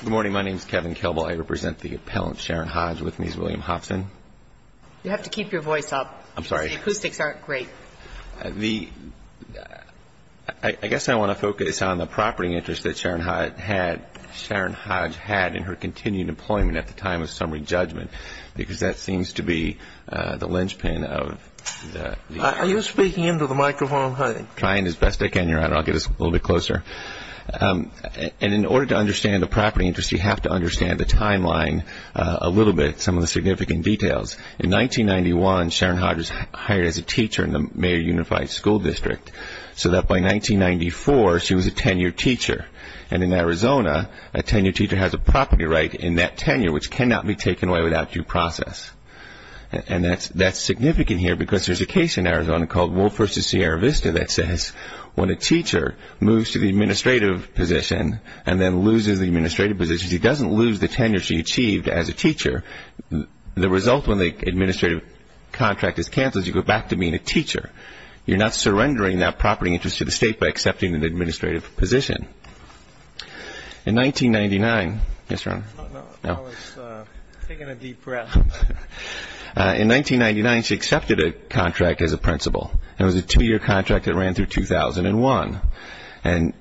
Good morning. My name is Kevin Kelbel. I represent the appellant, Sharon Hodge. With me is William Hobson. You have to keep your voice up. I'm sorry. The acoustics aren't great. I guess I want to focus on the property interest that Sharon Hodge had in her continued employment at the time of summary judgment, because that seems to be the linchpin of the Are you speaking into the microphone? I'm trying as best I can, Your Honor. I'll get us a little bit closer. In order to understand the property interest, you have to understand the timeline a little bit, some of the significant details. In 1991, Sharon Hodge was hired as a teacher in the Mayer Unified School District, so that by 1994, she was a tenured teacher. In Arizona, a tenured teacher has a property right in that tenure, which cannot be taken away without due process. And that's significant here because there's a case in Arizona called Wolfe v. Sierra Vista that says when a teacher moves to the administrative position and then loses the administrative position, he doesn't lose the tenure she achieved as a teacher. The result when the administrative contract is canceled, you go back to being a teacher. You're not surrendering that property interest to the state by accepting an administrative position. In 1999, she accepted a contract as a principal. It was a two-year contract that ran through 2001. And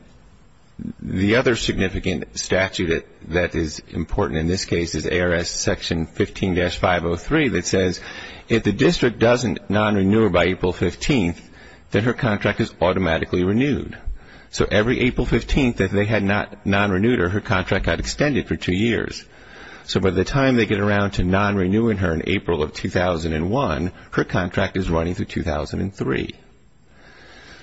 the other significant statute that is important in this case is ARS Section 15-503 that says if the district doesn't non-renew her by April 15th, then her contract is automatically renewed. So every April 15th, if they had not non-renewed her, her contract got extended for two years. So by the time they get around to non-renewing her in April of 2001, her contract is running through 2003.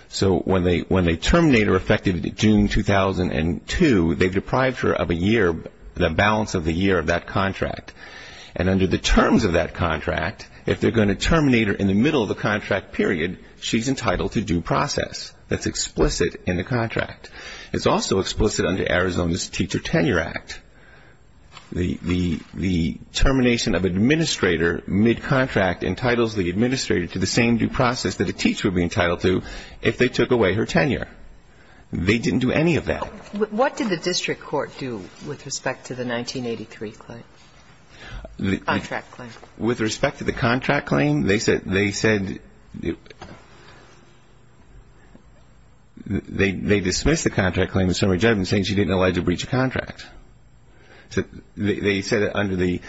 So when they terminate her effective June 2002, they've deprived her of a year, the balance of the year of that contract. And under the terms of that contract, if they're going to terminate her in the middle of the contract period, she's entitled to due process. That's explicit in the contract. It's also explicit under Arizona's Teacher Tenure Act. The termination of administrator mid-contract entitles the administrator to the same due process that a teacher would be entitled to if they took away her tenure. They didn't do any of that. What did the district court do with respect to the 1983 contract claim? With respect to the contract claim, they said they dismissed the contract claim in summary judgment saying she didn't allege a breach of contract. He applied the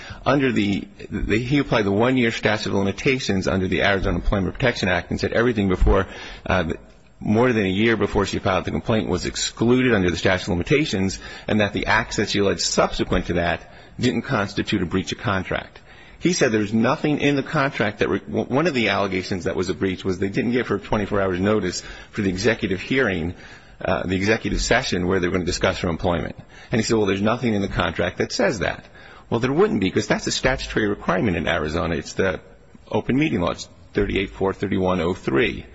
one-year statute of limitations under the Arizona Employment Protection Act and said everything more than a year before she filed the complaint was excluded under the statute of limitations and that the acts that she alleged subsequent to that didn't constitute a breach of contract. He said there's nothing in the contract that one of the allegations that was a breach was they didn't give her a 24-hour notice for the executive hearing, the executive session where they were going to discuss her employment. And he said, well, there's nothing in the contract that says that. Well, there wouldn't be because that's a statutory requirement in Arizona. It's the open meeting law, it's 38-4-3103.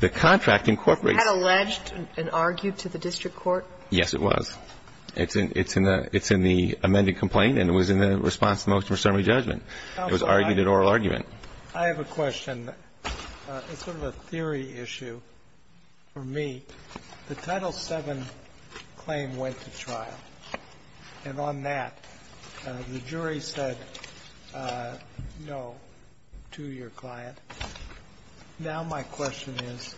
The contract incorporates – Had alleged and argued to the district court? Yes, it was. It's in the amended complaint and it was in the response to the motion for summary judgment. It was argued at oral argument. I have a question. It's sort of a theory issue for me. The Title VII claim went to trial, and on that, the jury said no to your client. Now my question is,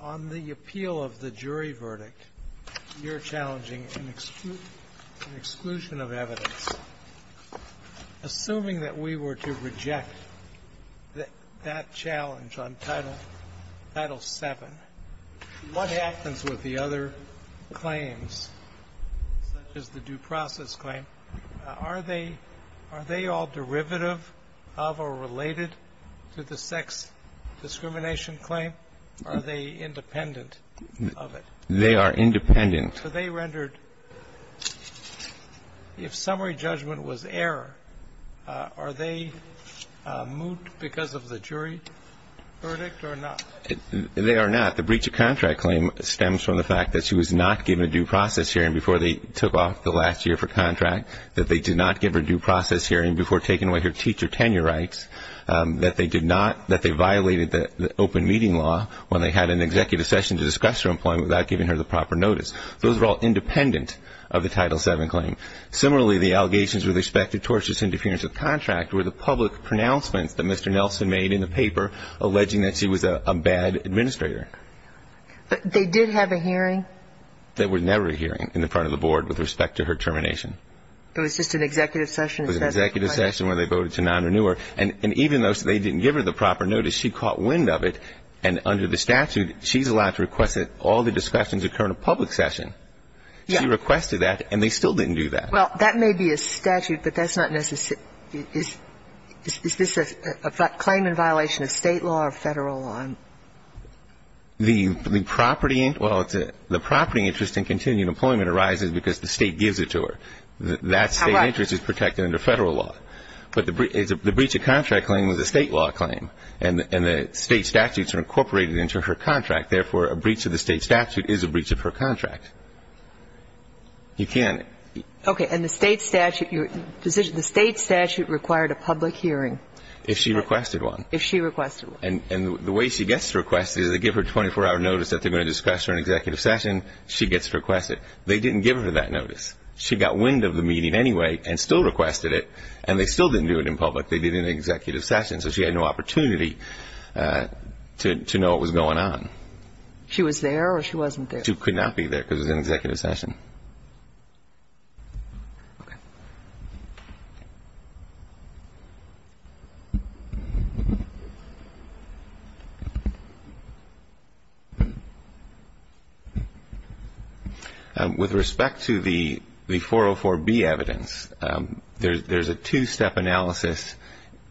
on the appeal of the jury verdict, you're challenging an exclusion of evidence. Assuming that we were to reject that challenge on Title VII, what happens with the other claims, such as the due process claim? Are they all derivative of or related to the sex discrimination claim? Are they independent of it? They are independent. So they rendered – if summary judgment was error, are they moot because of the jury verdict or not? They are not. The breach of contract claim stems from the fact that she was not given a due process hearing before they took off the last year for contract, that they did not give her due process hearing before taking away her teacher tenure rights, that they violated the open meeting law when they had an executive session to discuss her employment without giving her the proper notice. Those are all independent of the Title VII claim. Similarly, the allegations with respect to tortious interference of contract were the public pronouncements that Mr. Nelson made in the paper alleging that she was a bad administrator. But they did have a hearing? There was never a hearing in the front of the board with respect to her termination. It was just an executive session? It was an executive session where they voted to non-renew her. And even though they didn't give her the proper notice, she caught wind of it. And under the statute, she's allowed to request that all the discussions occur in a public session. She requested that, and they still didn't do that. Well, that may be a statute, but that's not necessarily – is this a claim in violation of State law or Federal law? The property – well, the property interest in continued employment arises because the State gives it to her. That State interest is protected under Federal law. But the breach of contract claim was a State law claim, and the State statutes are incorporated into her contract. Therefore, a breach of the State statute is a breach of her contract. You can't – Okay. And the State statute – the State statute required a public hearing? If she requested one. If she requested one. And the way she gets requested is they give her a 24-hour notice that they're going to discuss her in an executive session. She gets requested. They didn't give her that notice. She got wind of the meeting anyway and still requested it, and they still didn't do it in public. They did it in an executive session. So she had no opportunity to know what was going on. She was there or she wasn't there? She could not be there because it was an executive session. Okay. With respect to the 404B evidence, there's a two-step analysis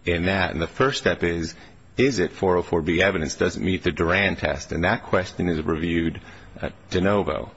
in that. And the first step is, is it 404B evidence? Does it meet the Duran test? And that question is reviewed de novo.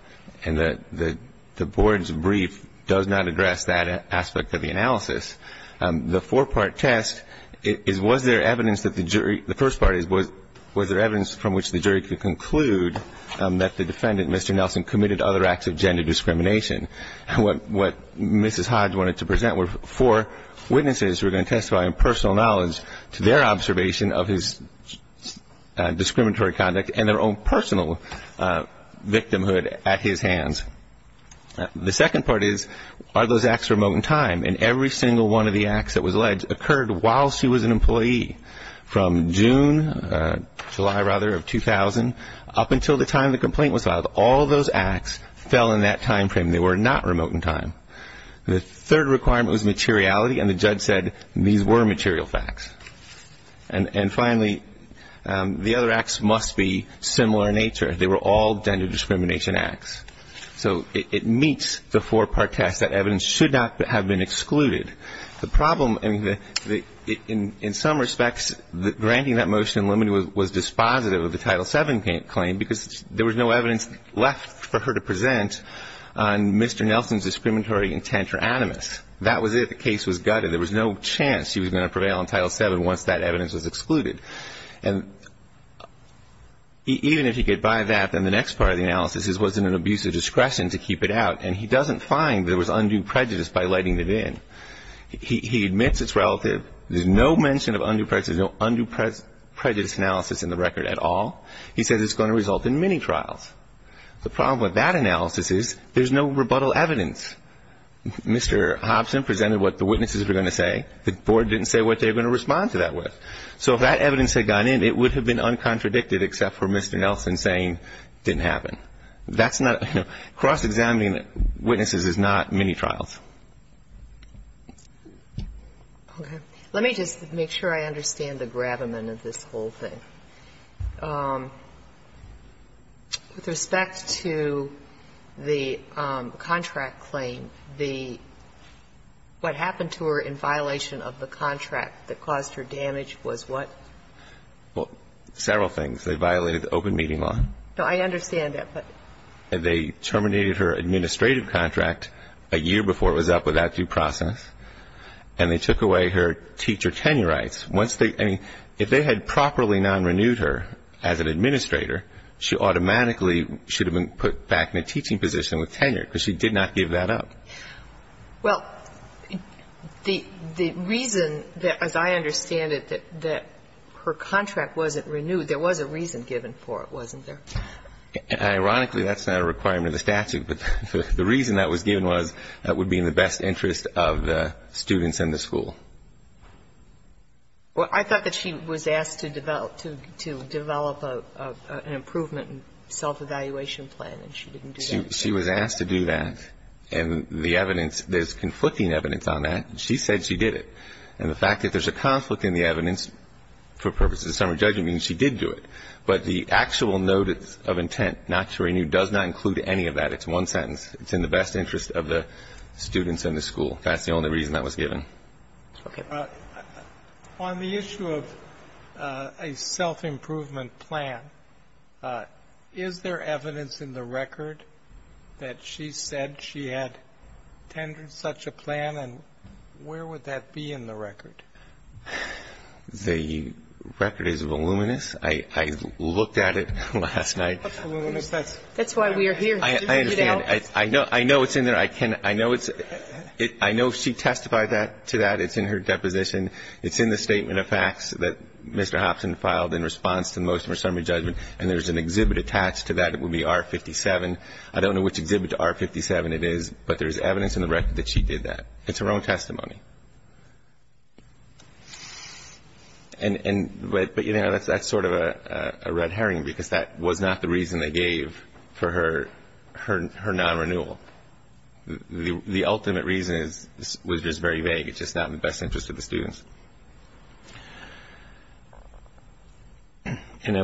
And the board's brief does not address that aspect of the analysis. The four-part test is, was there evidence that the jury – the first part is, was there evidence from which the jury could conclude that the defendant, Mr. Nelson, committed other acts of gender discrimination? What Mrs. Hodge wanted to present were four witnesses who were going to testify in personal knowledge to their observation of his discriminatory conduct and their own personal victimhood at his hands. The second part is, are those acts remote in time? And every single one of the acts that was alleged occurred while she was an employee from June, July rather, of 2000, up until the time the complaint was filed. All those acts fell in that time frame. They were not remote in time. The third requirement was materiality, and the judge said these were material facts. And finally, the other acts must be similar in nature. They were all gender discrimination acts. So it meets the four-part test that evidence should not have been excluded. The problem in some respects, granting that motion in limine was dispositive of the Title VII claim because there was no evidence left for her to present on Mr. Nelson's discriminatory intent or animus. That was it. The case was gutted. There was no chance she was going to prevail in Title VII once that evidence was excluded. And even if he could buy that, then the next part of the analysis is, was it an abuse of discretion to keep it out? And he doesn't find there was undue prejudice by letting it in. He admits it's relative. There's no mention of undue prejudice, no undue prejudice analysis in the record at all. He says it's going to result in mini-trials. The problem with that analysis is there's no rebuttal evidence. Mr. Hobson presented what the witnesses were going to say. The Board didn't say what they were going to respond to that with. So if that evidence had gone in, it would have been uncontradicted except for Mr. Nelson saying it didn't happen. That's not, you know, cross-examining witnesses is not mini-trials. Okay. Let me just make sure I understand the gravamen of this whole thing. With respect to the contract claim, the what happened to her in violation of the contract that caused her damage was what? Well, several things. They violated the open meeting law. No, I understand that, but. They terminated her administrative contract a year before it was up without due process, and they took away her teacher tenure rights. Once they, I mean, if they had properly non-renewed her as an administrator, she automatically should have been put back in a teaching position with tenure because she did not give that up. Well, the reason that, as I understand it, that her contract wasn't renewed, there was a reason given for it, wasn't there? Ironically, that's not a requirement of the statute, but the reason that was given was that would be in the best interest of the students in the school. Well, I thought that she was asked to develop an improvement self-evaluation plan, and she didn't do that. She was asked to do that, and the evidence, there's conflicting evidence on that, and she said she did it. And the fact that there's a conflict in the evidence for purposes of summary judgment means she did do it. But the actual notice of intent not to renew does not include any of that. It's one sentence. It's in the best interest of the students in the school. That's the only reason that was given. Okay. On the issue of a self-improvement plan, is there evidence in the record that she said she had tendered such a plan, and where would that be in the record? The record is voluminous. I looked at it last night. That's why we are here. I understand. I know it's in there. I know it's – I know she testified to that. It's in her deposition. It's in the statement of facts that Mr. Hopson filed in response to the motion for summary judgment, and there's an exhibit attached to that. It would be R57. I don't know which exhibit to R57 it is, but there's evidence in the record that she did that. It's her own testimony. But, you know, that's sort of a red herring, because that was not the reason they gave for her non-renewal. The ultimate reason was just very vague. It's just not in the best interest of the students. And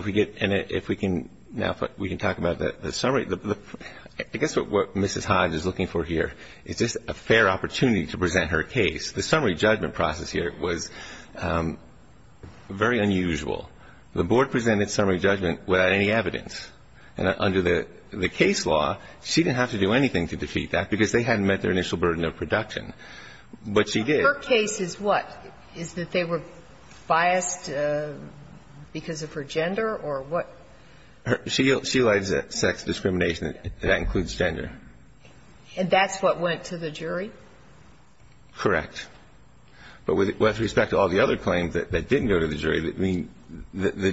if we can now talk about the summary, I guess what Mrs. Hodge is looking for here is just a fair opportunity to The summary judgment process here was very unusual. The board presented summary judgment without any evidence. And under the case law, she didn't have to do anything to defeat that, because they hadn't met their initial burden of production. But she did. Her case is what? Is that they were biased because of her gender or what? She alleged that sex discrimination, that includes gender. And that's what went to the jury? Correct. But with respect to all the other claims that didn't go to the jury, I mean, the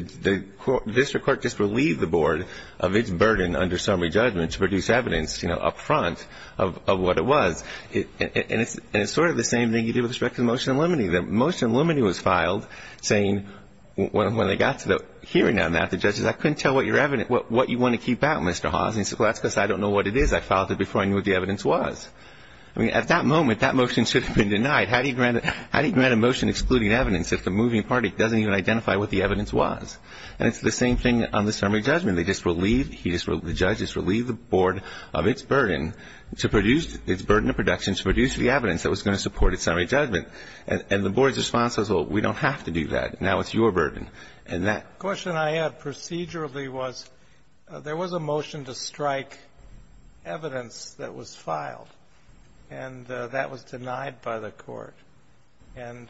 district court just relieved the board of its burden under summary judgment to produce evidence, you know, up front of what it was. And it's sort of the same thing you did with respect to the motion in limine. The motion in limine was filed saying when they got to the hearing on that, the judge said, I couldn't tell what your evidence, what you want to keep out, Mr. Hawes. And he said, well, that's because I don't know what it is. I filed it before I knew what the evidence was. I mean, at that moment, that motion should have been denied. How do you grant a motion excluding evidence if the moving party doesn't even identify what the evidence was? And it's the same thing on the summary judgment. They just relieved, he just relieved, the judge just relieved the board of its burden to produce, its burden of production to produce the evidence that was going to support its summary judgment. And the board's response was, well, we don't have to do that. Now it's your burden. And that question I had procedurally was there was a motion to strike evidence that was filed, and that was denied by the Court. And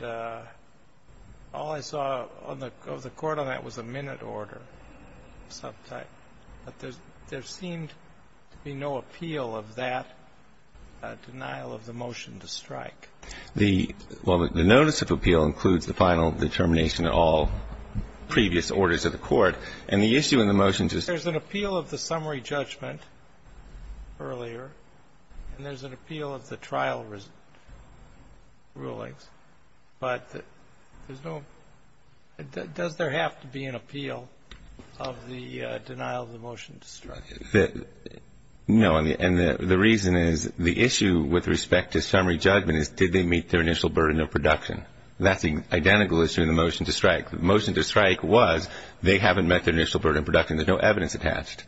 all I saw of the Court on that was a minute order of some type. But there seemed to be no appeal of that denial of the motion to strike. The, well, the notice of appeal includes the final determination of all previous orders of the Court. And the issue in the motion to strike. There's an appeal of the summary judgment earlier, and there's an appeal of the trial rulings, but there's no, does there have to be an appeal of the denial of the motion to strike? No, and the reason is the issue with respect to summary judgment is did they meet their initial burden of production? That's the identical issue in the motion to strike. The motion to strike was they haven't met their initial burden of production. There's no evidence attached.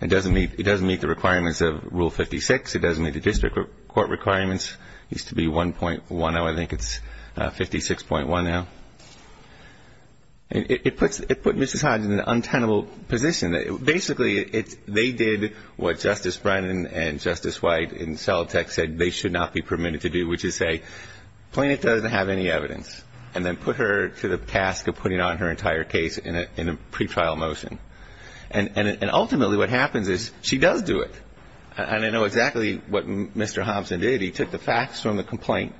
It doesn't meet the requirements of Rule 56. It doesn't meet the district court requirements. It used to be 1.10. I think it's 56.1 now. It puts Mrs. Hodge in an untenable position. Basically, they did what Justice Brennan and Justice White in Celotek said they should not be permitted to do, which is say, Plaintiff doesn't have any evidence, and then put her to the task of putting on her entire case in a pretrial motion. And ultimately what happens is she does do it. And I know exactly what Mr. Hobson did. He took the facts from the complaint,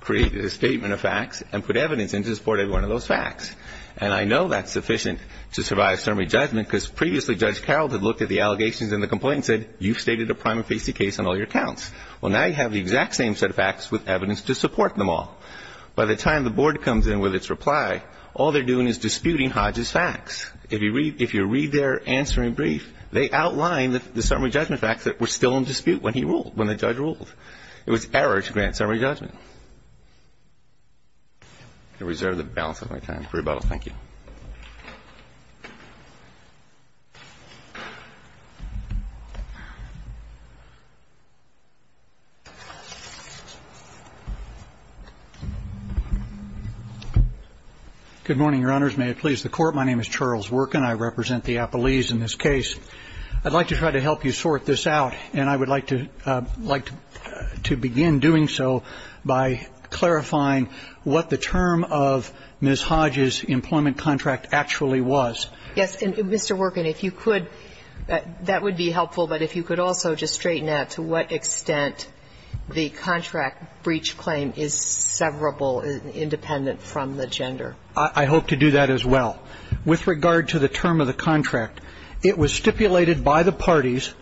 created a statement of facts, and put evidence into support of one of those facts. And I know that's sufficient to survive summary judgment, because previously Judge Carroll had looked at the allegations in the complaint and said, you've stated a prima facie case on all your counts. Well, now you have the exact same set of facts with evidence to support them all. By the time the board comes in with its reply, all they're doing is disputing Hodge's facts. If you read their answering brief, they outline the summary judgment facts that were still in dispute when he ruled, when the judge ruled. It was error to grant summary judgment. I reserve the balance of my time for rebuttal. Thank you. Good morning, Your Honors. May it please the Court. My name is Charles Workin. I represent the Appalese in this case. I'd like to try to help you sort this out, and I would like to begin doing so by clarifying what the term of Ms. Hodge's employment contract actually was. Yes. And, Mr. Workin, if you could, that would be helpful. But if you could also just straighten out to what extent the contract breach claim is severable, independent from the gender. I hope to do that as well. With regard to the term of the contract, it was stipulated by the parties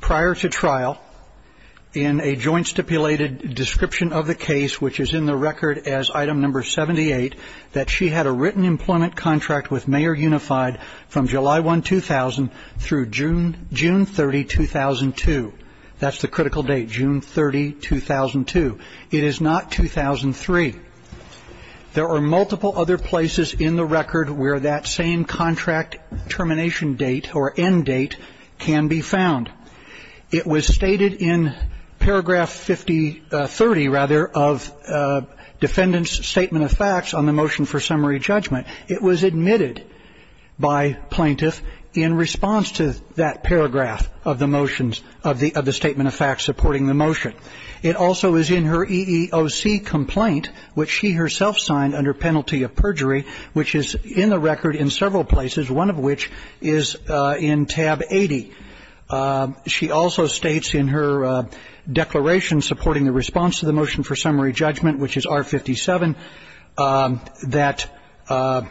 prior to trial in a joint stipulated description of the case, which is in the record as item number 78, that she had a written employment contract with Mayer Unified from July 1, 2000, through June 30, 2002. That's the critical date, June 30, 2002. It is not 2003. There are multiple other places in the record where that same contract termination date or end date can be found. It was stated in paragraph 5030, rather, of defendant's statement of facts on the motion for summary judgment. It was admitted by plaintiff in response to that paragraph of the motions, of the statement of facts supporting the motion. It also is in her EEOC complaint, which she herself signed under penalty of perjury, which is in the record in several places, one of which is in tab 80. She also states in her declaration supporting the response to the motion for summary judgment, which is R57, that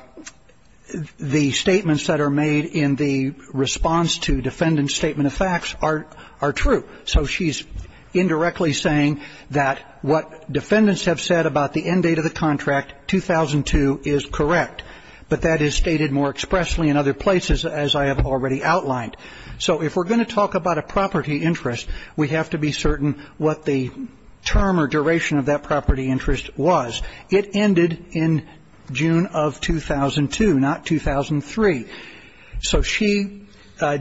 the statements that are made in the response to defendant's statement of facts are true. So she's indirectly saying that what defendants have said about the end date of the contract, 2002, is correct. But that is stated more expressly in other places, as I have already outlined. So if we're going to talk about a property interest, we have to be certain what the term or duration of that property interest was. It ended in June of 2002, not 2003. So she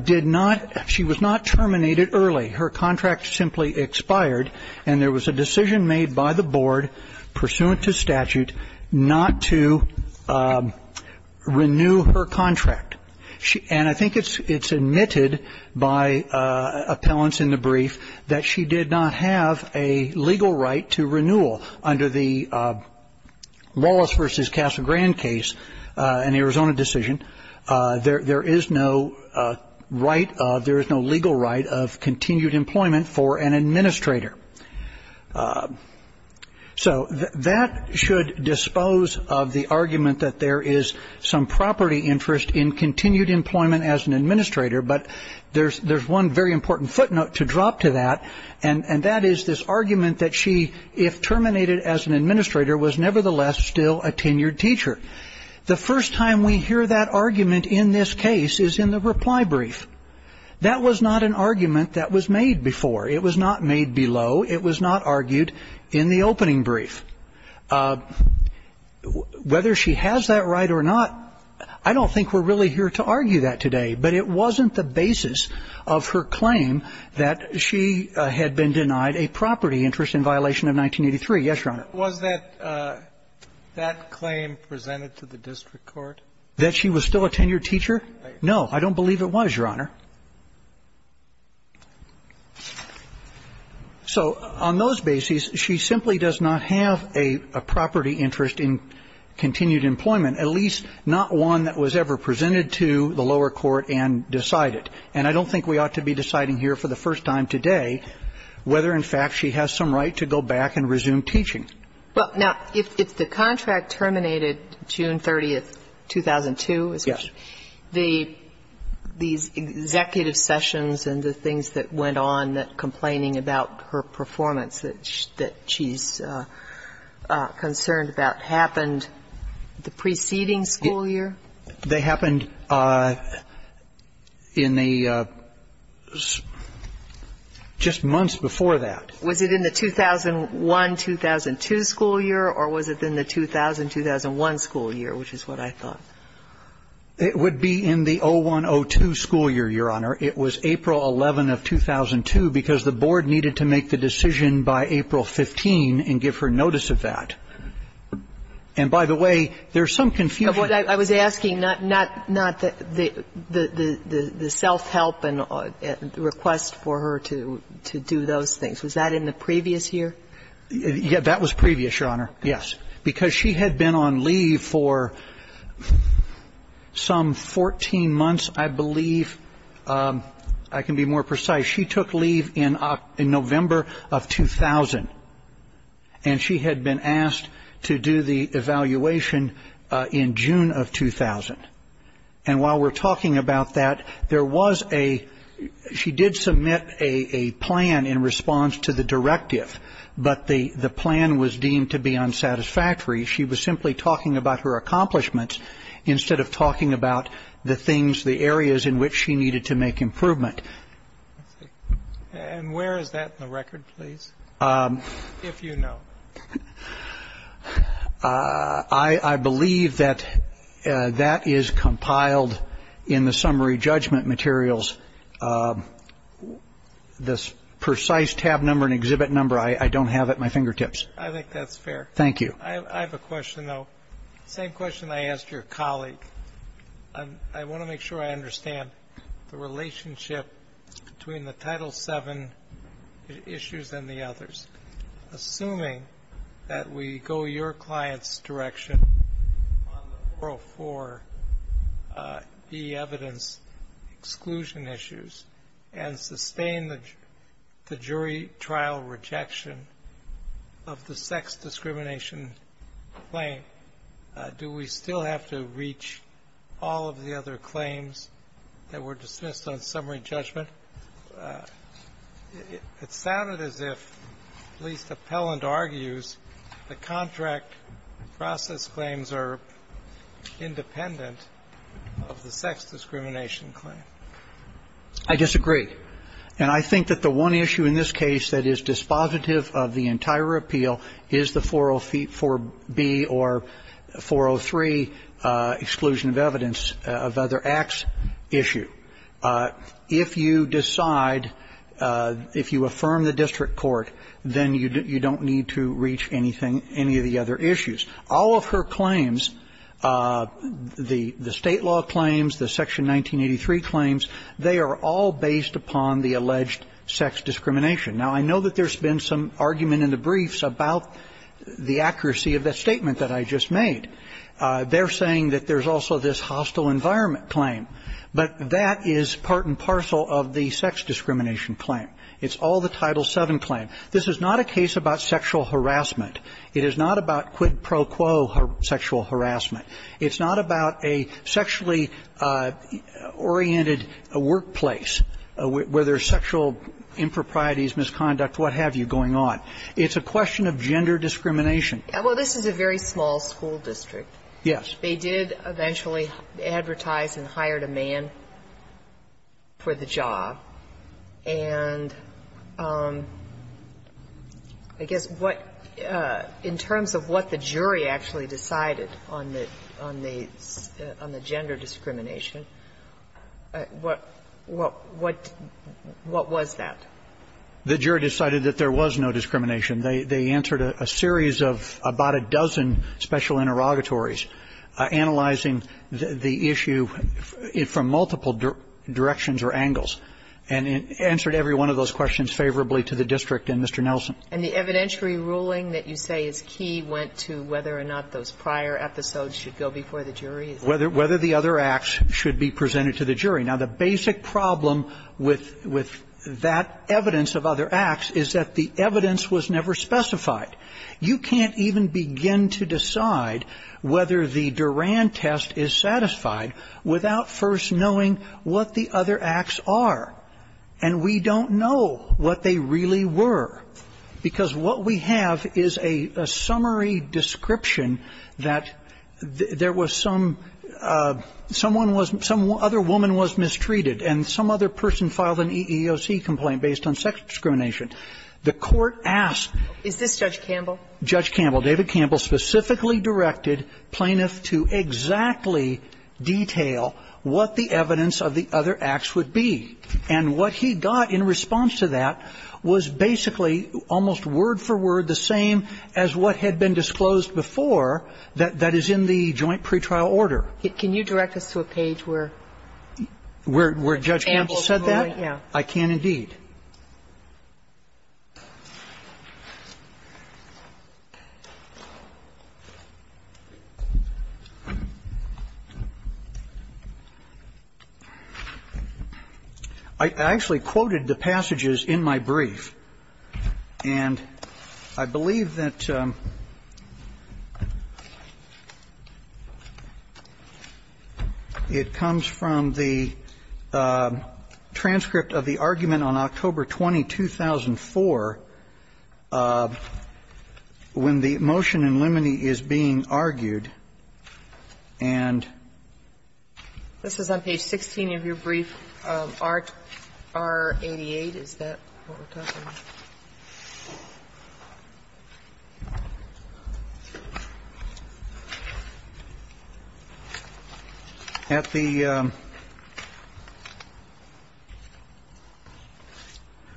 did not, she was not terminated early. Her contract simply expired, and there was a decision made by the board pursuant to statute not to renew her contract. And I think it's admitted by appellants in the brief that she did not have a legal right to renewal under the Wallace v. Castle Grand case in the Arizona decision. There is no right of, there is no legal right of continued employment for an administrator. So that should dispose of the argument that there is some property interest in continued employment as an administrator, but there's one very important footnote to drop to that, and that is this argument that she, if terminated as an administrator, was nevertheless still a tenured teacher. The first time we hear that argument in this case is in the reply brief. That was not an argument that was made before. It was not made below. It was not argued in the opening brief. Whether she has that right or not, I don't think we're really here to argue that today, but it wasn't the basis of her claim that she had been denied a property interest in violation of 1983. Yes, Your Honor. But was that claim presented to the district court? That she was still a tenured teacher? No. I don't believe it was, Your Honor. So on those bases, she simply does not have a property interest in continued employment, at least not one that was ever presented to the lower court and decided. And I don't think we ought to be deciding here for the first time today whether, in fact, she has some right to go back and resume teaching. Well, now, if the contract terminated June 30th, 2002. Yes. These executive sessions and the things that went on, that complaining about her performance that she's concerned about, happened the preceding school year? They happened in the just months before that. Was it in the 2001-2002 school year, or was it in the 2000-2001 school year, which is what I thought? It would be in the 01-02 school year, Your Honor. It was April 11 of 2002, because the board needed to make the decision by April 15 and give her notice of that. And by the way, there's some confusion. I was asking not the self-help request for her to do those things. Was that in the previous year? Yeah. That was previous, Your Honor. Yes. Because she had been on leave for some 14 months, I believe. I can be more precise. She took leave in November of 2000. And she had been asked to do the evaluation in June of 2000. And while we're talking about that, there was a ‑‑ she did submit a plan in response to the directive, but the plan was deemed to be unsatisfactory. She was simply talking about her accomplishments instead of talking about the things, the areas in which she needed to make improvement. And where is that in the record, please? If you know. I believe that that is compiled in the summary judgment materials. This precise tab number and exhibit number, I don't have at my fingertips. I think that's fair. Thank you. I have a question, though. Same question I asked your colleague. I want to make sure I understand the relationship between the Title VII issues and the others. Assuming that we go your client's direction on the 404B evidence exclusion issues and sustain the jury trial rejection of the sex discrimination claim, do we still have to reach all of the other claims that were dismissed on summary judgment? It sounded as if, at least Appellant argues, the contract process claims are independent of the sex discrimination claim. I disagree. And I think that the one issue in this case that is dispositive of the entire appeal is the 404B or 403 exclusion of evidence of other acts issue. If you decide, if you affirm the district court, then you don't need to reach anything, any of the other issues. All of her claims, the state law claims, the Section 1983 claims, they are all based upon the alleged sex discrimination. Now, I know that there's been some argument in the briefs about the accuracy of that statement that I just made. They're saying that there's also this hostile environment claim. But that is part and parcel of the sex discrimination claim. It's all the Title VII claim. This is not a case about sexual harassment. It is not about quid pro quo sexual harassment. It's not about a sexually oriented workplace where there's sexual improprieties, misconduct, what have you, going on. It's a question of gender discrimination. Well, this is a very small school district. Yes. They did eventually advertise and hired a man for the job. And I guess what, in terms of what the jury actually decided on the gender discrimination, what was that? The jury decided that there was no discrimination. They answered a series of about a dozen special interrogatories analyzing the issue from multiple directions or angles and answered every one of those questions favorably to the district and Mr. Nelson. And the evidentiary ruling that you say is key went to whether or not those prior episodes should go before the jury? Whether the other acts should be presented to the jury. Now, the basic problem with that evidence of other acts is that the evidence was never specified. You can't even begin to decide whether the Duran test is satisfied without first knowing what the other acts are. And we don't know what they really were. Because what we have is a summary description that there was some, someone was, some other woman was mistreated and some other person filed an EEOC complaint based on sex discrimination. The court asked. Is this Judge Campbell? Judge Campbell. David Campbell specifically directed plaintiffs to exactly detail what the evidence of the other acts would be. And what he got in response to that was basically almost word for word the same as what had been disclosed before that is in the joint pretrial order. Can you direct us to a page where? Where Judge Campbell said that? Yeah. I can indeed. I actually quoted the passages in my brief. And I believe that it comes from the transcript of the argument on October 20, 2004 when the motion in limine is being argued and. This is on page 16 of your brief. R88. Is that what we're talking about? At the.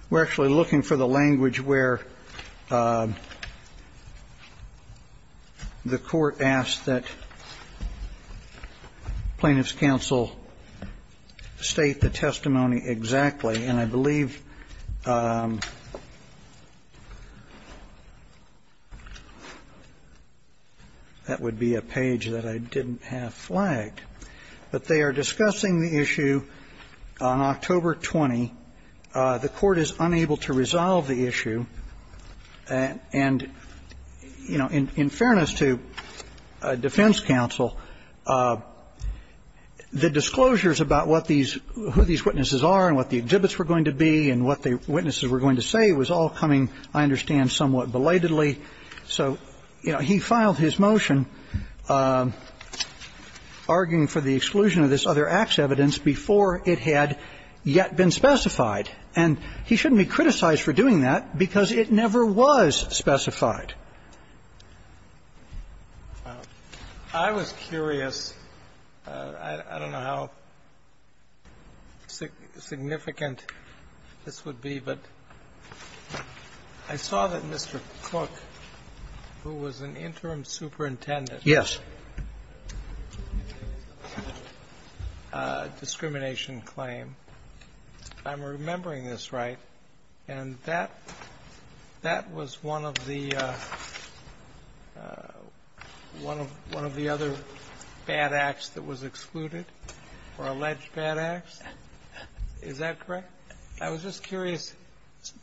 We're actually looking for the language where the court asked that. Plaintiffs counsel state the testimony exactly. And I believe that would be a page that I didn't have flagged. But they are discussing the issue on October 20. The court is unable to resolve the issue. And, you know, in fairness to defense counsel, the disclosures about what these who these witnesses are and what the exhibits were going to be and what the witnesses were going to say was all coming, I understand, somewhat belatedly. So, you know, he filed his motion arguing for the exclusion of this other acts evidence before it had yet been specified. And he shouldn't be criticized for doing that because it never was specified. I was curious. I don't know how significant this would be. But I saw that Mr. Cook, who was an interim superintendent. Yes. I'm remembering this right. And that that was one of the one of one of the other bad acts that was excluded or alleged bad acts. Is that correct? I was just curious.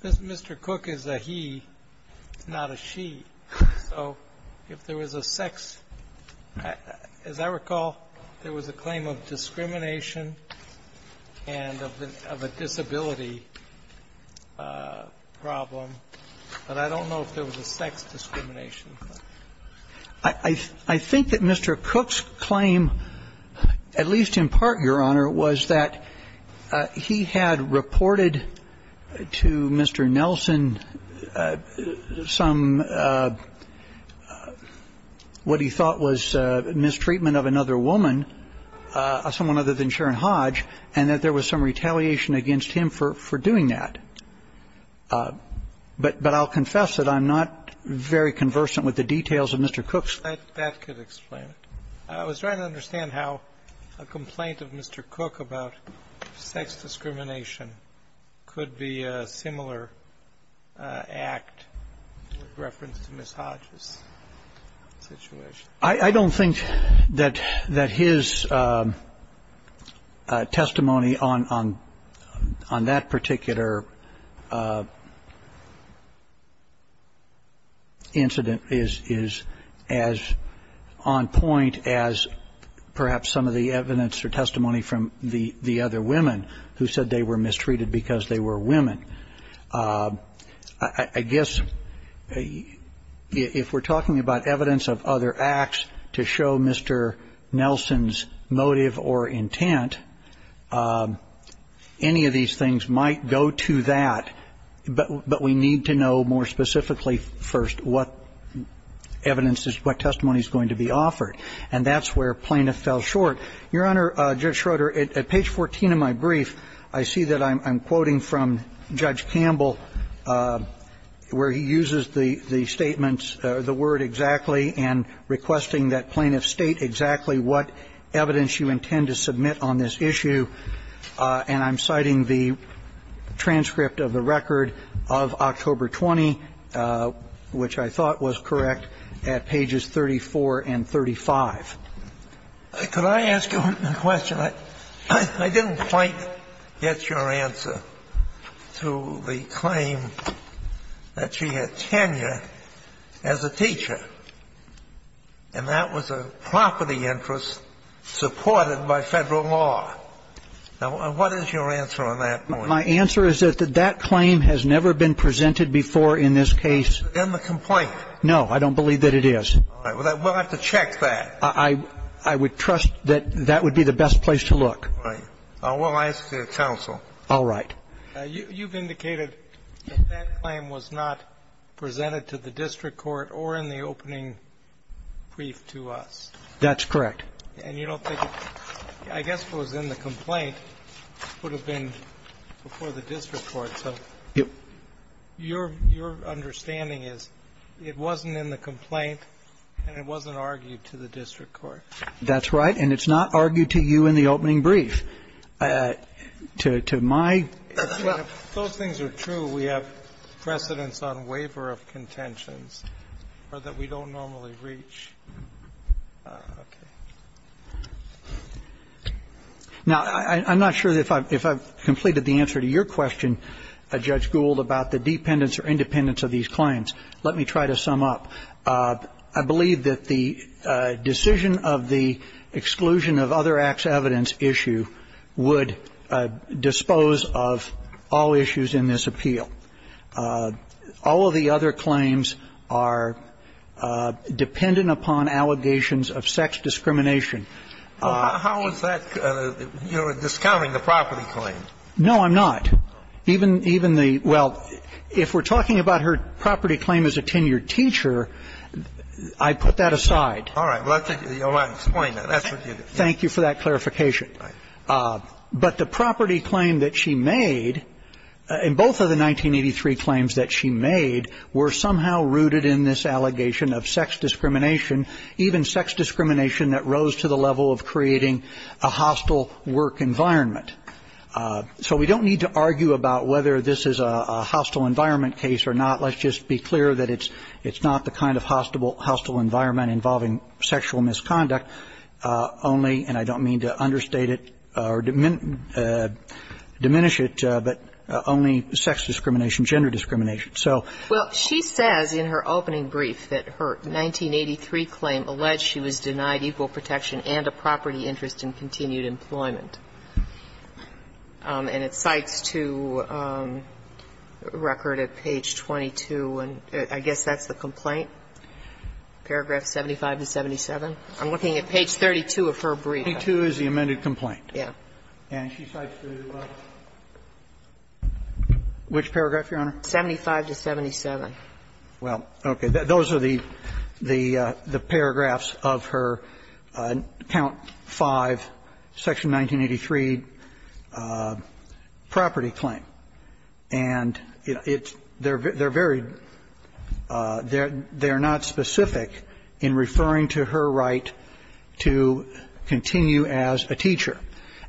Mr. Cook is a he, not a she. So if there was a sex, as I recall, there was a claim of discrimination and of a disability problem. But I don't know if there was a sex discrimination. I think that Mr. Cook's claim, at least in part, Your Honor, was that he had reported to Mr. Nelson some what he thought was mistreatment of another woman, someone other than Sharon Hodge, and that there was some retaliation against him for doing that. But I'll confess that I'm not very conversant with the details of Mr. Cook's. That could explain it. I was trying to understand how a complaint of Mr. Cook about sex discrimination could be a similar act with reference to Ms. Hodge's situation. I don't think that that his testimony on that particular incident is as on point as perhaps some of the evidence or testimony from the other women who said they were mistreated because they were women. I guess if we're talking about evidence of other acts to show Mr. Nelson's motive or intent, any of these things might go to that. But we need to know more specifically first what evidence is, what testimony is going to be offered. And that's where plaintiff fell short. Your Honor, Judge Schroeder, at page 14 of my brief, I see that I'm quoting from Judge Campbell where he uses the statements, the word exactly, and requesting that plaintiff state exactly what evidence you intend to submit on this issue. And I'm citing the transcript of the record of October 20, which I thought was correct, at pages 34 and 35. Could I ask you a question? I didn't quite get your answer to the claim that she had tenure as a teacher, and that was a property interest supported by Federal law. Now, what is your answer on that point? My answer is that that claim has never been presented before in this case. In the complaint? No. I don't believe that it is. All right. Well, then we'll have to check that. I would trust that that would be the best place to look. I will ask your counsel. All right. You've indicated that that claim was not presented to the district court or in the opening brief to us. That's correct. And you don't think it's – I guess if it was in the complaint, it would have been before the district court. So your understanding is it wasn't in the complaint and it wasn't argued to the district court. That's right. And it's not argued to you in the opening brief. To my – If those things are true, we have precedence on waiver of contentions or that we don't normally reach. Okay. Now, I'm not sure if I've completed the answer to your question, Judge Gould, about the dependence or independence of these claims. Let me try to sum up. I believe that the decision of the exclusion of other acts of evidence issue would dispose of all issues in this appeal. All of the other claims are dependent upon allegations of sex discrimination. How is that – you're discounting the property claim. No, I'm not. Even the – well, if we're talking about her property claim as a tenured teacher, I put that aside. All right. Well, I'll explain that. That's what you did. Thank you for that clarification. Right. But the property claim that she made, and both of the 1983 claims that she made, were somehow rooted in this allegation of sex discrimination, even sex discrimination that rose to the level of creating a hostile work environment. So we don't need to argue about whether this is a hostile environment case or not. Let's just be clear that it's not the kind of hostile environment involving sexual misconduct, only – and I don't mean to understate it or diminish it – but only sex discrimination, gender discrimination. So – Well, she says in her opening brief that her 1983 claim alleged she was denied equal protection and a property interest in continued employment. And it cites to record at page 22, and I guess that's the complaint, paragraph 75 to 77. I'm looking at page 32 of her brief. 32 is the amended complaint. Yeah. And she cites to which paragraph, Your Honor? 75 to 77. Well, okay. Those are the paragraphs of her count 5, section 1983, property claim. And it's – they're very – they're not specific in referring to her right to continue as a teacher.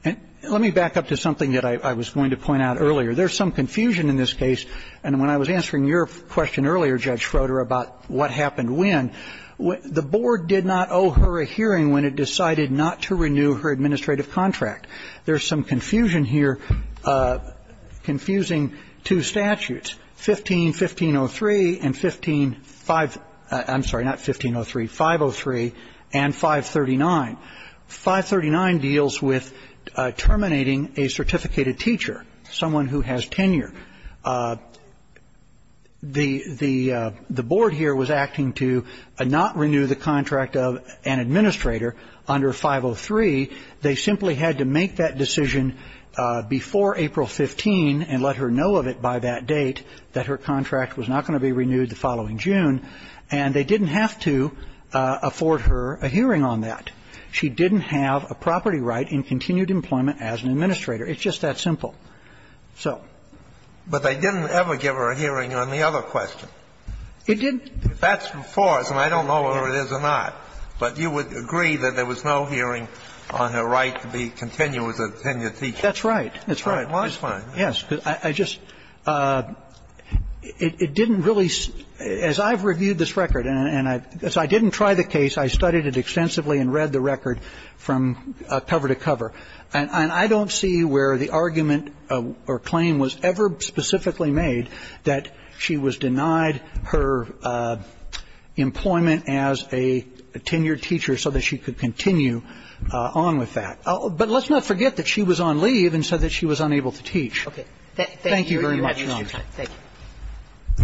And let me back up to something that I was going to point out earlier. There's some confusion in this case. And when I was answering your question earlier, Judge Schroeder, about what happened when, the board did not owe her a hearing when it decided not to renew her administrative contract. There's some confusion here, confusing two statutes, 15-1503 and 15-5 – I'm sorry, not 1503, 503 and 539. 539 deals with terminating a certificated teacher, someone who has tenure. The board here was acting to not renew the contract of an administrator under 503. They simply had to make that decision before April 15 and let her know of it by that date, that her contract was not going to be renewed the following June. And they didn't have to afford her a hearing on that. She didn't have a property right in continued employment as an administrator. It's just that simple. So – But they didn't ever give her a hearing on the other question. It didn't. That's the force. And I don't know whether it is or not. But you would agree that there was no hearing on her right to be continued as a tenured teacher? That's right. That's right. Well, that's fine. I just – it didn't really – as I've reviewed this record and I've – as I didn't try the case, I studied it extensively and read the record from cover to cover. And I don't see where the argument or claim was ever specifically made that she was denied her employment as a tenured teacher so that she could continue on with that. But let's not forget that she was on leave and said that she was unable to teach. Thank you very much, Your Honor. Thank you. I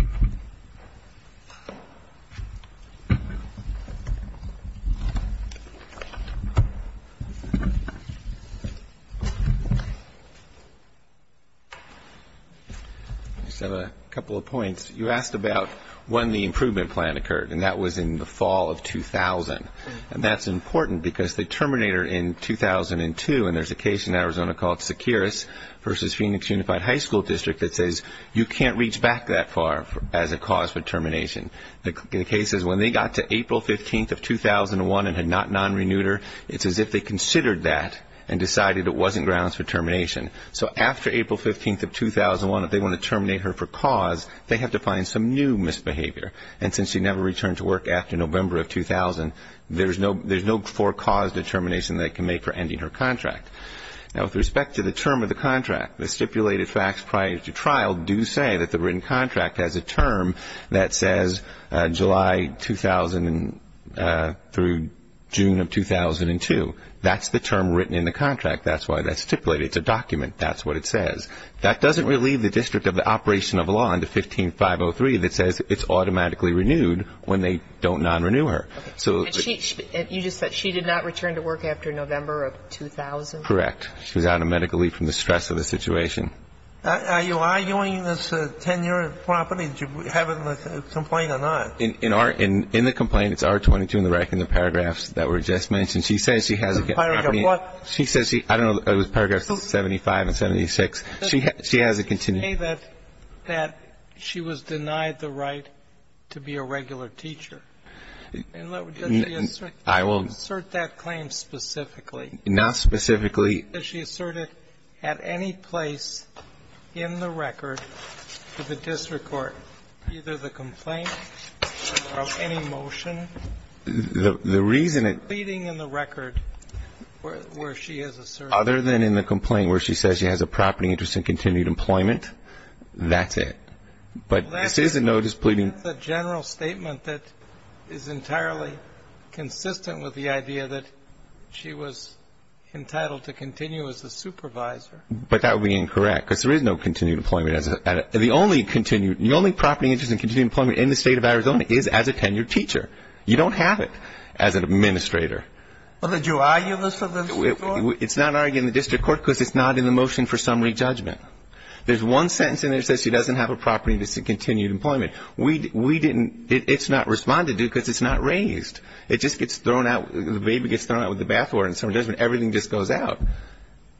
just have a couple of points. You asked about when the improvement plan occurred. And that was in the fall of 2000. And that's important because the terminator in 2002 – and there's a case in Arizona called Securis versus Phoenix Unified High School District that says you can't reach back that far as a cause for termination. The case is when they got to April 15th of 2001 and had not non-renewed her, it's as if they considered that and decided it wasn't grounds for termination. So after April 15th of 2001, if they want to terminate her for cause, they have to find some new misbehavior. And since she never returned to work after November of 2000, there's no for cause determination they can make for ending her contract. Now, with respect to the term of the contract, the stipulated facts prior to trial do say that the written contract has a term that says July 2000 through June of 2002. That's the term written in the contract. That's why that's stipulated. It's a document. That's what it says. That doesn't relieve the district of the operation of law under 15-503 that says it's automatically renewed when they don't non-renew her. And you just said she did not return to work after November of 2000? Correct. She was out of medical leave from the stress of the situation. Are you arguing this is a 10-year property? Do you have a complaint or not? In our ‑‑ in the complaint, it's R22 in the paragraph that were just mentioned. She says she has a ‑‑ Paragraph what? I don't know. It was paragraphs 75 and 76. She has a ‑‑ You say that she was denied the right to be a regular teacher. I will ‑‑ And does she assert that claim specifically? Not specifically. Does she assert it at any place in the record to the district court, either the complaint or any motion? The reason it ‑‑ Leading in the record where she has asserted it. Other than in the complaint where she says she has a property interest in continued employment, that's it. But this is a notice pleading ‑‑ That's a general statement that is entirely consistent with the idea that she was entitled to continue as a supervisor. But that would be incorrect, because there is no continued employment. The only continued ‑‑ the only property interest in continued employment in the state of Arizona is as a 10-year teacher. You don't have it as an administrator. Well, did you argue this at the district court? It's not argued in the district court, because it's not in the motion for summary judgment. There's one sentence in there that says she doesn't have a property interest in continued employment. We didn't ‑‑ it's not responded to, because it's not raised. It just gets thrown out. The baby gets thrown out with the bathwater and summary judgment. Everything just goes out.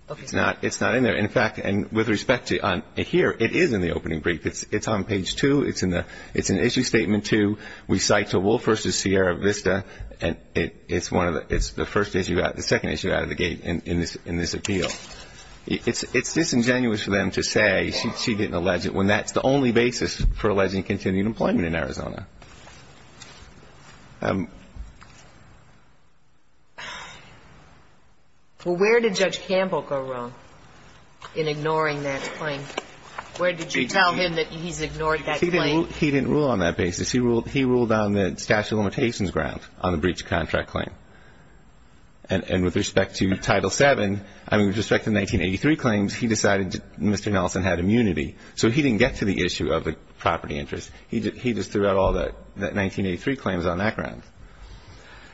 Okay. It's not in there. In fact, and with respect to here, it is in the opening brief. It's on page 2. It's in the ‑‑ it's an issue statement 2. We cite to Wolf v. Sierra Vista. It's one of the ‑‑ it's the first issue ‑‑ the second issue out of the gate in this appeal. It's disingenuous for them to say she didn't allege it, when that's the only basis for alleging continued employment in Arizona. Well, where did Judge Campbell go wrong in ignoring that claim? Where did you tell him that he's ignored that claim? He didn't rule on that basis. He ruled on the statute of limitations ground on the breach of contract claim. And with respect to Title VII, I mean, with respect to 1983 claims, he decided Mr. Nelson had immunity. So he didn't get to the issue of the property interest. He just threw out all the 1983 claims on that ground.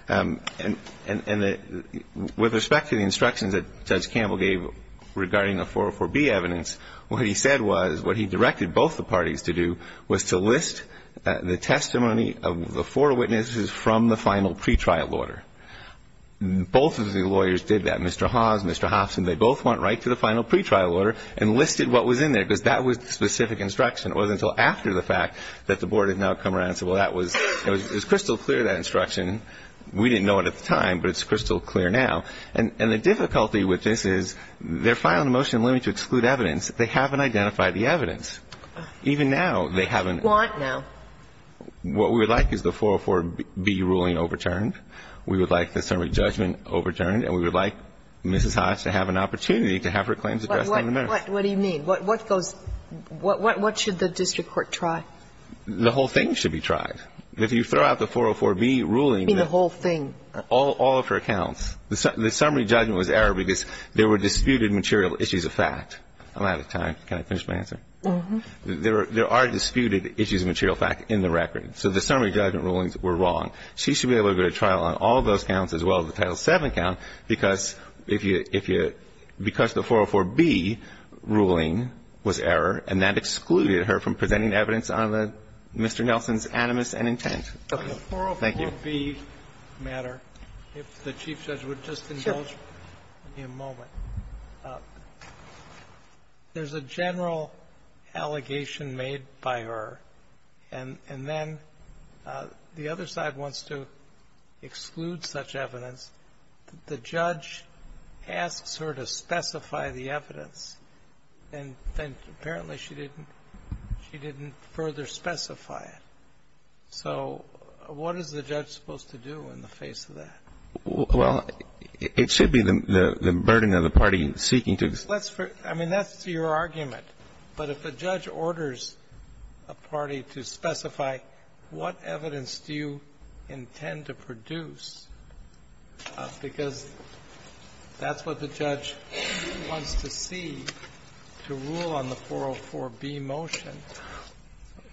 And with respect to the instructions that Judge Campbell gave regarding the 404B evidence, what he said was, what he directed both the parties to do was to list the testimony of the four witnesses from the final pretrial order. Both of the lawyers did that, Mr. Hawes, Mr. Hobson. They both went right to the final pretrial order and listed what was in there, because that was the specific instruction. It wasn't until after the fact that the board had now come around and said, well, that was crystal clear, that instruction. We didn't know it at the time, but it's crystal clear now. And the difficulty with this is they're filing a motion limiting to exclude evidence. They haven't identified the evidence. Even now, they haven't. What do you want now? What we would like is the 404B ruling overturned. We would like the summary judgment overturned. And we would like Mrs. Hodge to have an opportunity to have her claims addressed in the merits. But what do you mean? What goes – what should the district court try? The whole thing should be tried. If you throw out the 404B ruling that – You mean the whole thing. All of her accounts. The summary judgment was error because there were disputed material issues of fact. I'm out of time. Can I finish my answer? Uh-huh. There are disputed issues of material fact in the record. So the summary judgment rulings were wrong. She should be able to go to trial on all those counts as well as the Title VII count because if you – because the 404B ruling was error, and that excluded her from presenting evidence on Mr. Nelson's animus and intent. Thank you. The 404B matter, if the Chief Judge would just indulge me a moment. Sure. There's a general allegation made by her, and then the other side wants to exclude such evidence. The judge asks her to specify the evidence, and then apparently she didn't – she didn't further specify it. So what is the judge supposed to do in the face of that? Well, it should be the burden of the party seeking to – I mean, that's your argument. But if a judge orders a party to specify what evidence do you intend to produce because that's what the judge wants to see to rule on the 404B motion,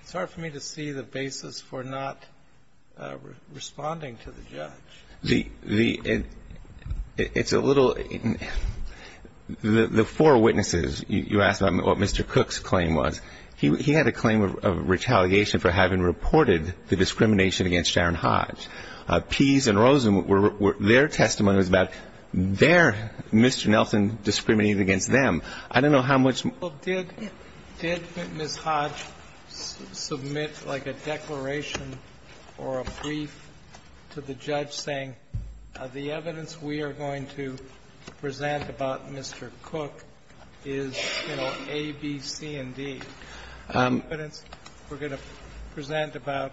it's hard for me to see the basis for not responding to the judge. The – it's a little – the four witnesses, you asked about what Mr. Cook's claim was. He had a claim of retaliation for having reported the discrimination against Sharon Hodge. Pease and Rosen were – their testimony was about their – Mr. Nelson discriminated against them. I don't know how much more. Well, did – did Ms. Hodge submit like a declaration or a brief to the judge saying the evidence we are going to present about Mr. Cook is, you know, A, B, C, and D? The evidence we're going to present about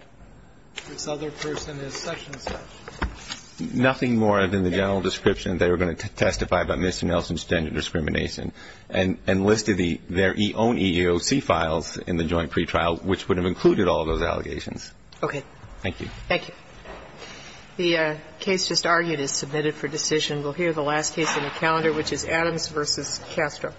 this other person is such-and-such. Nothing more than the general description. They were going to testify about Mr. Nelson's gender discrimination and listed the – their own EEOC files in the joint pretrial, which would have included all those allegations. Okay. Thank you. Thank you. The case just argued is submitted for decision. We'll hear the last case in the calendar, which is Adams v. Castro.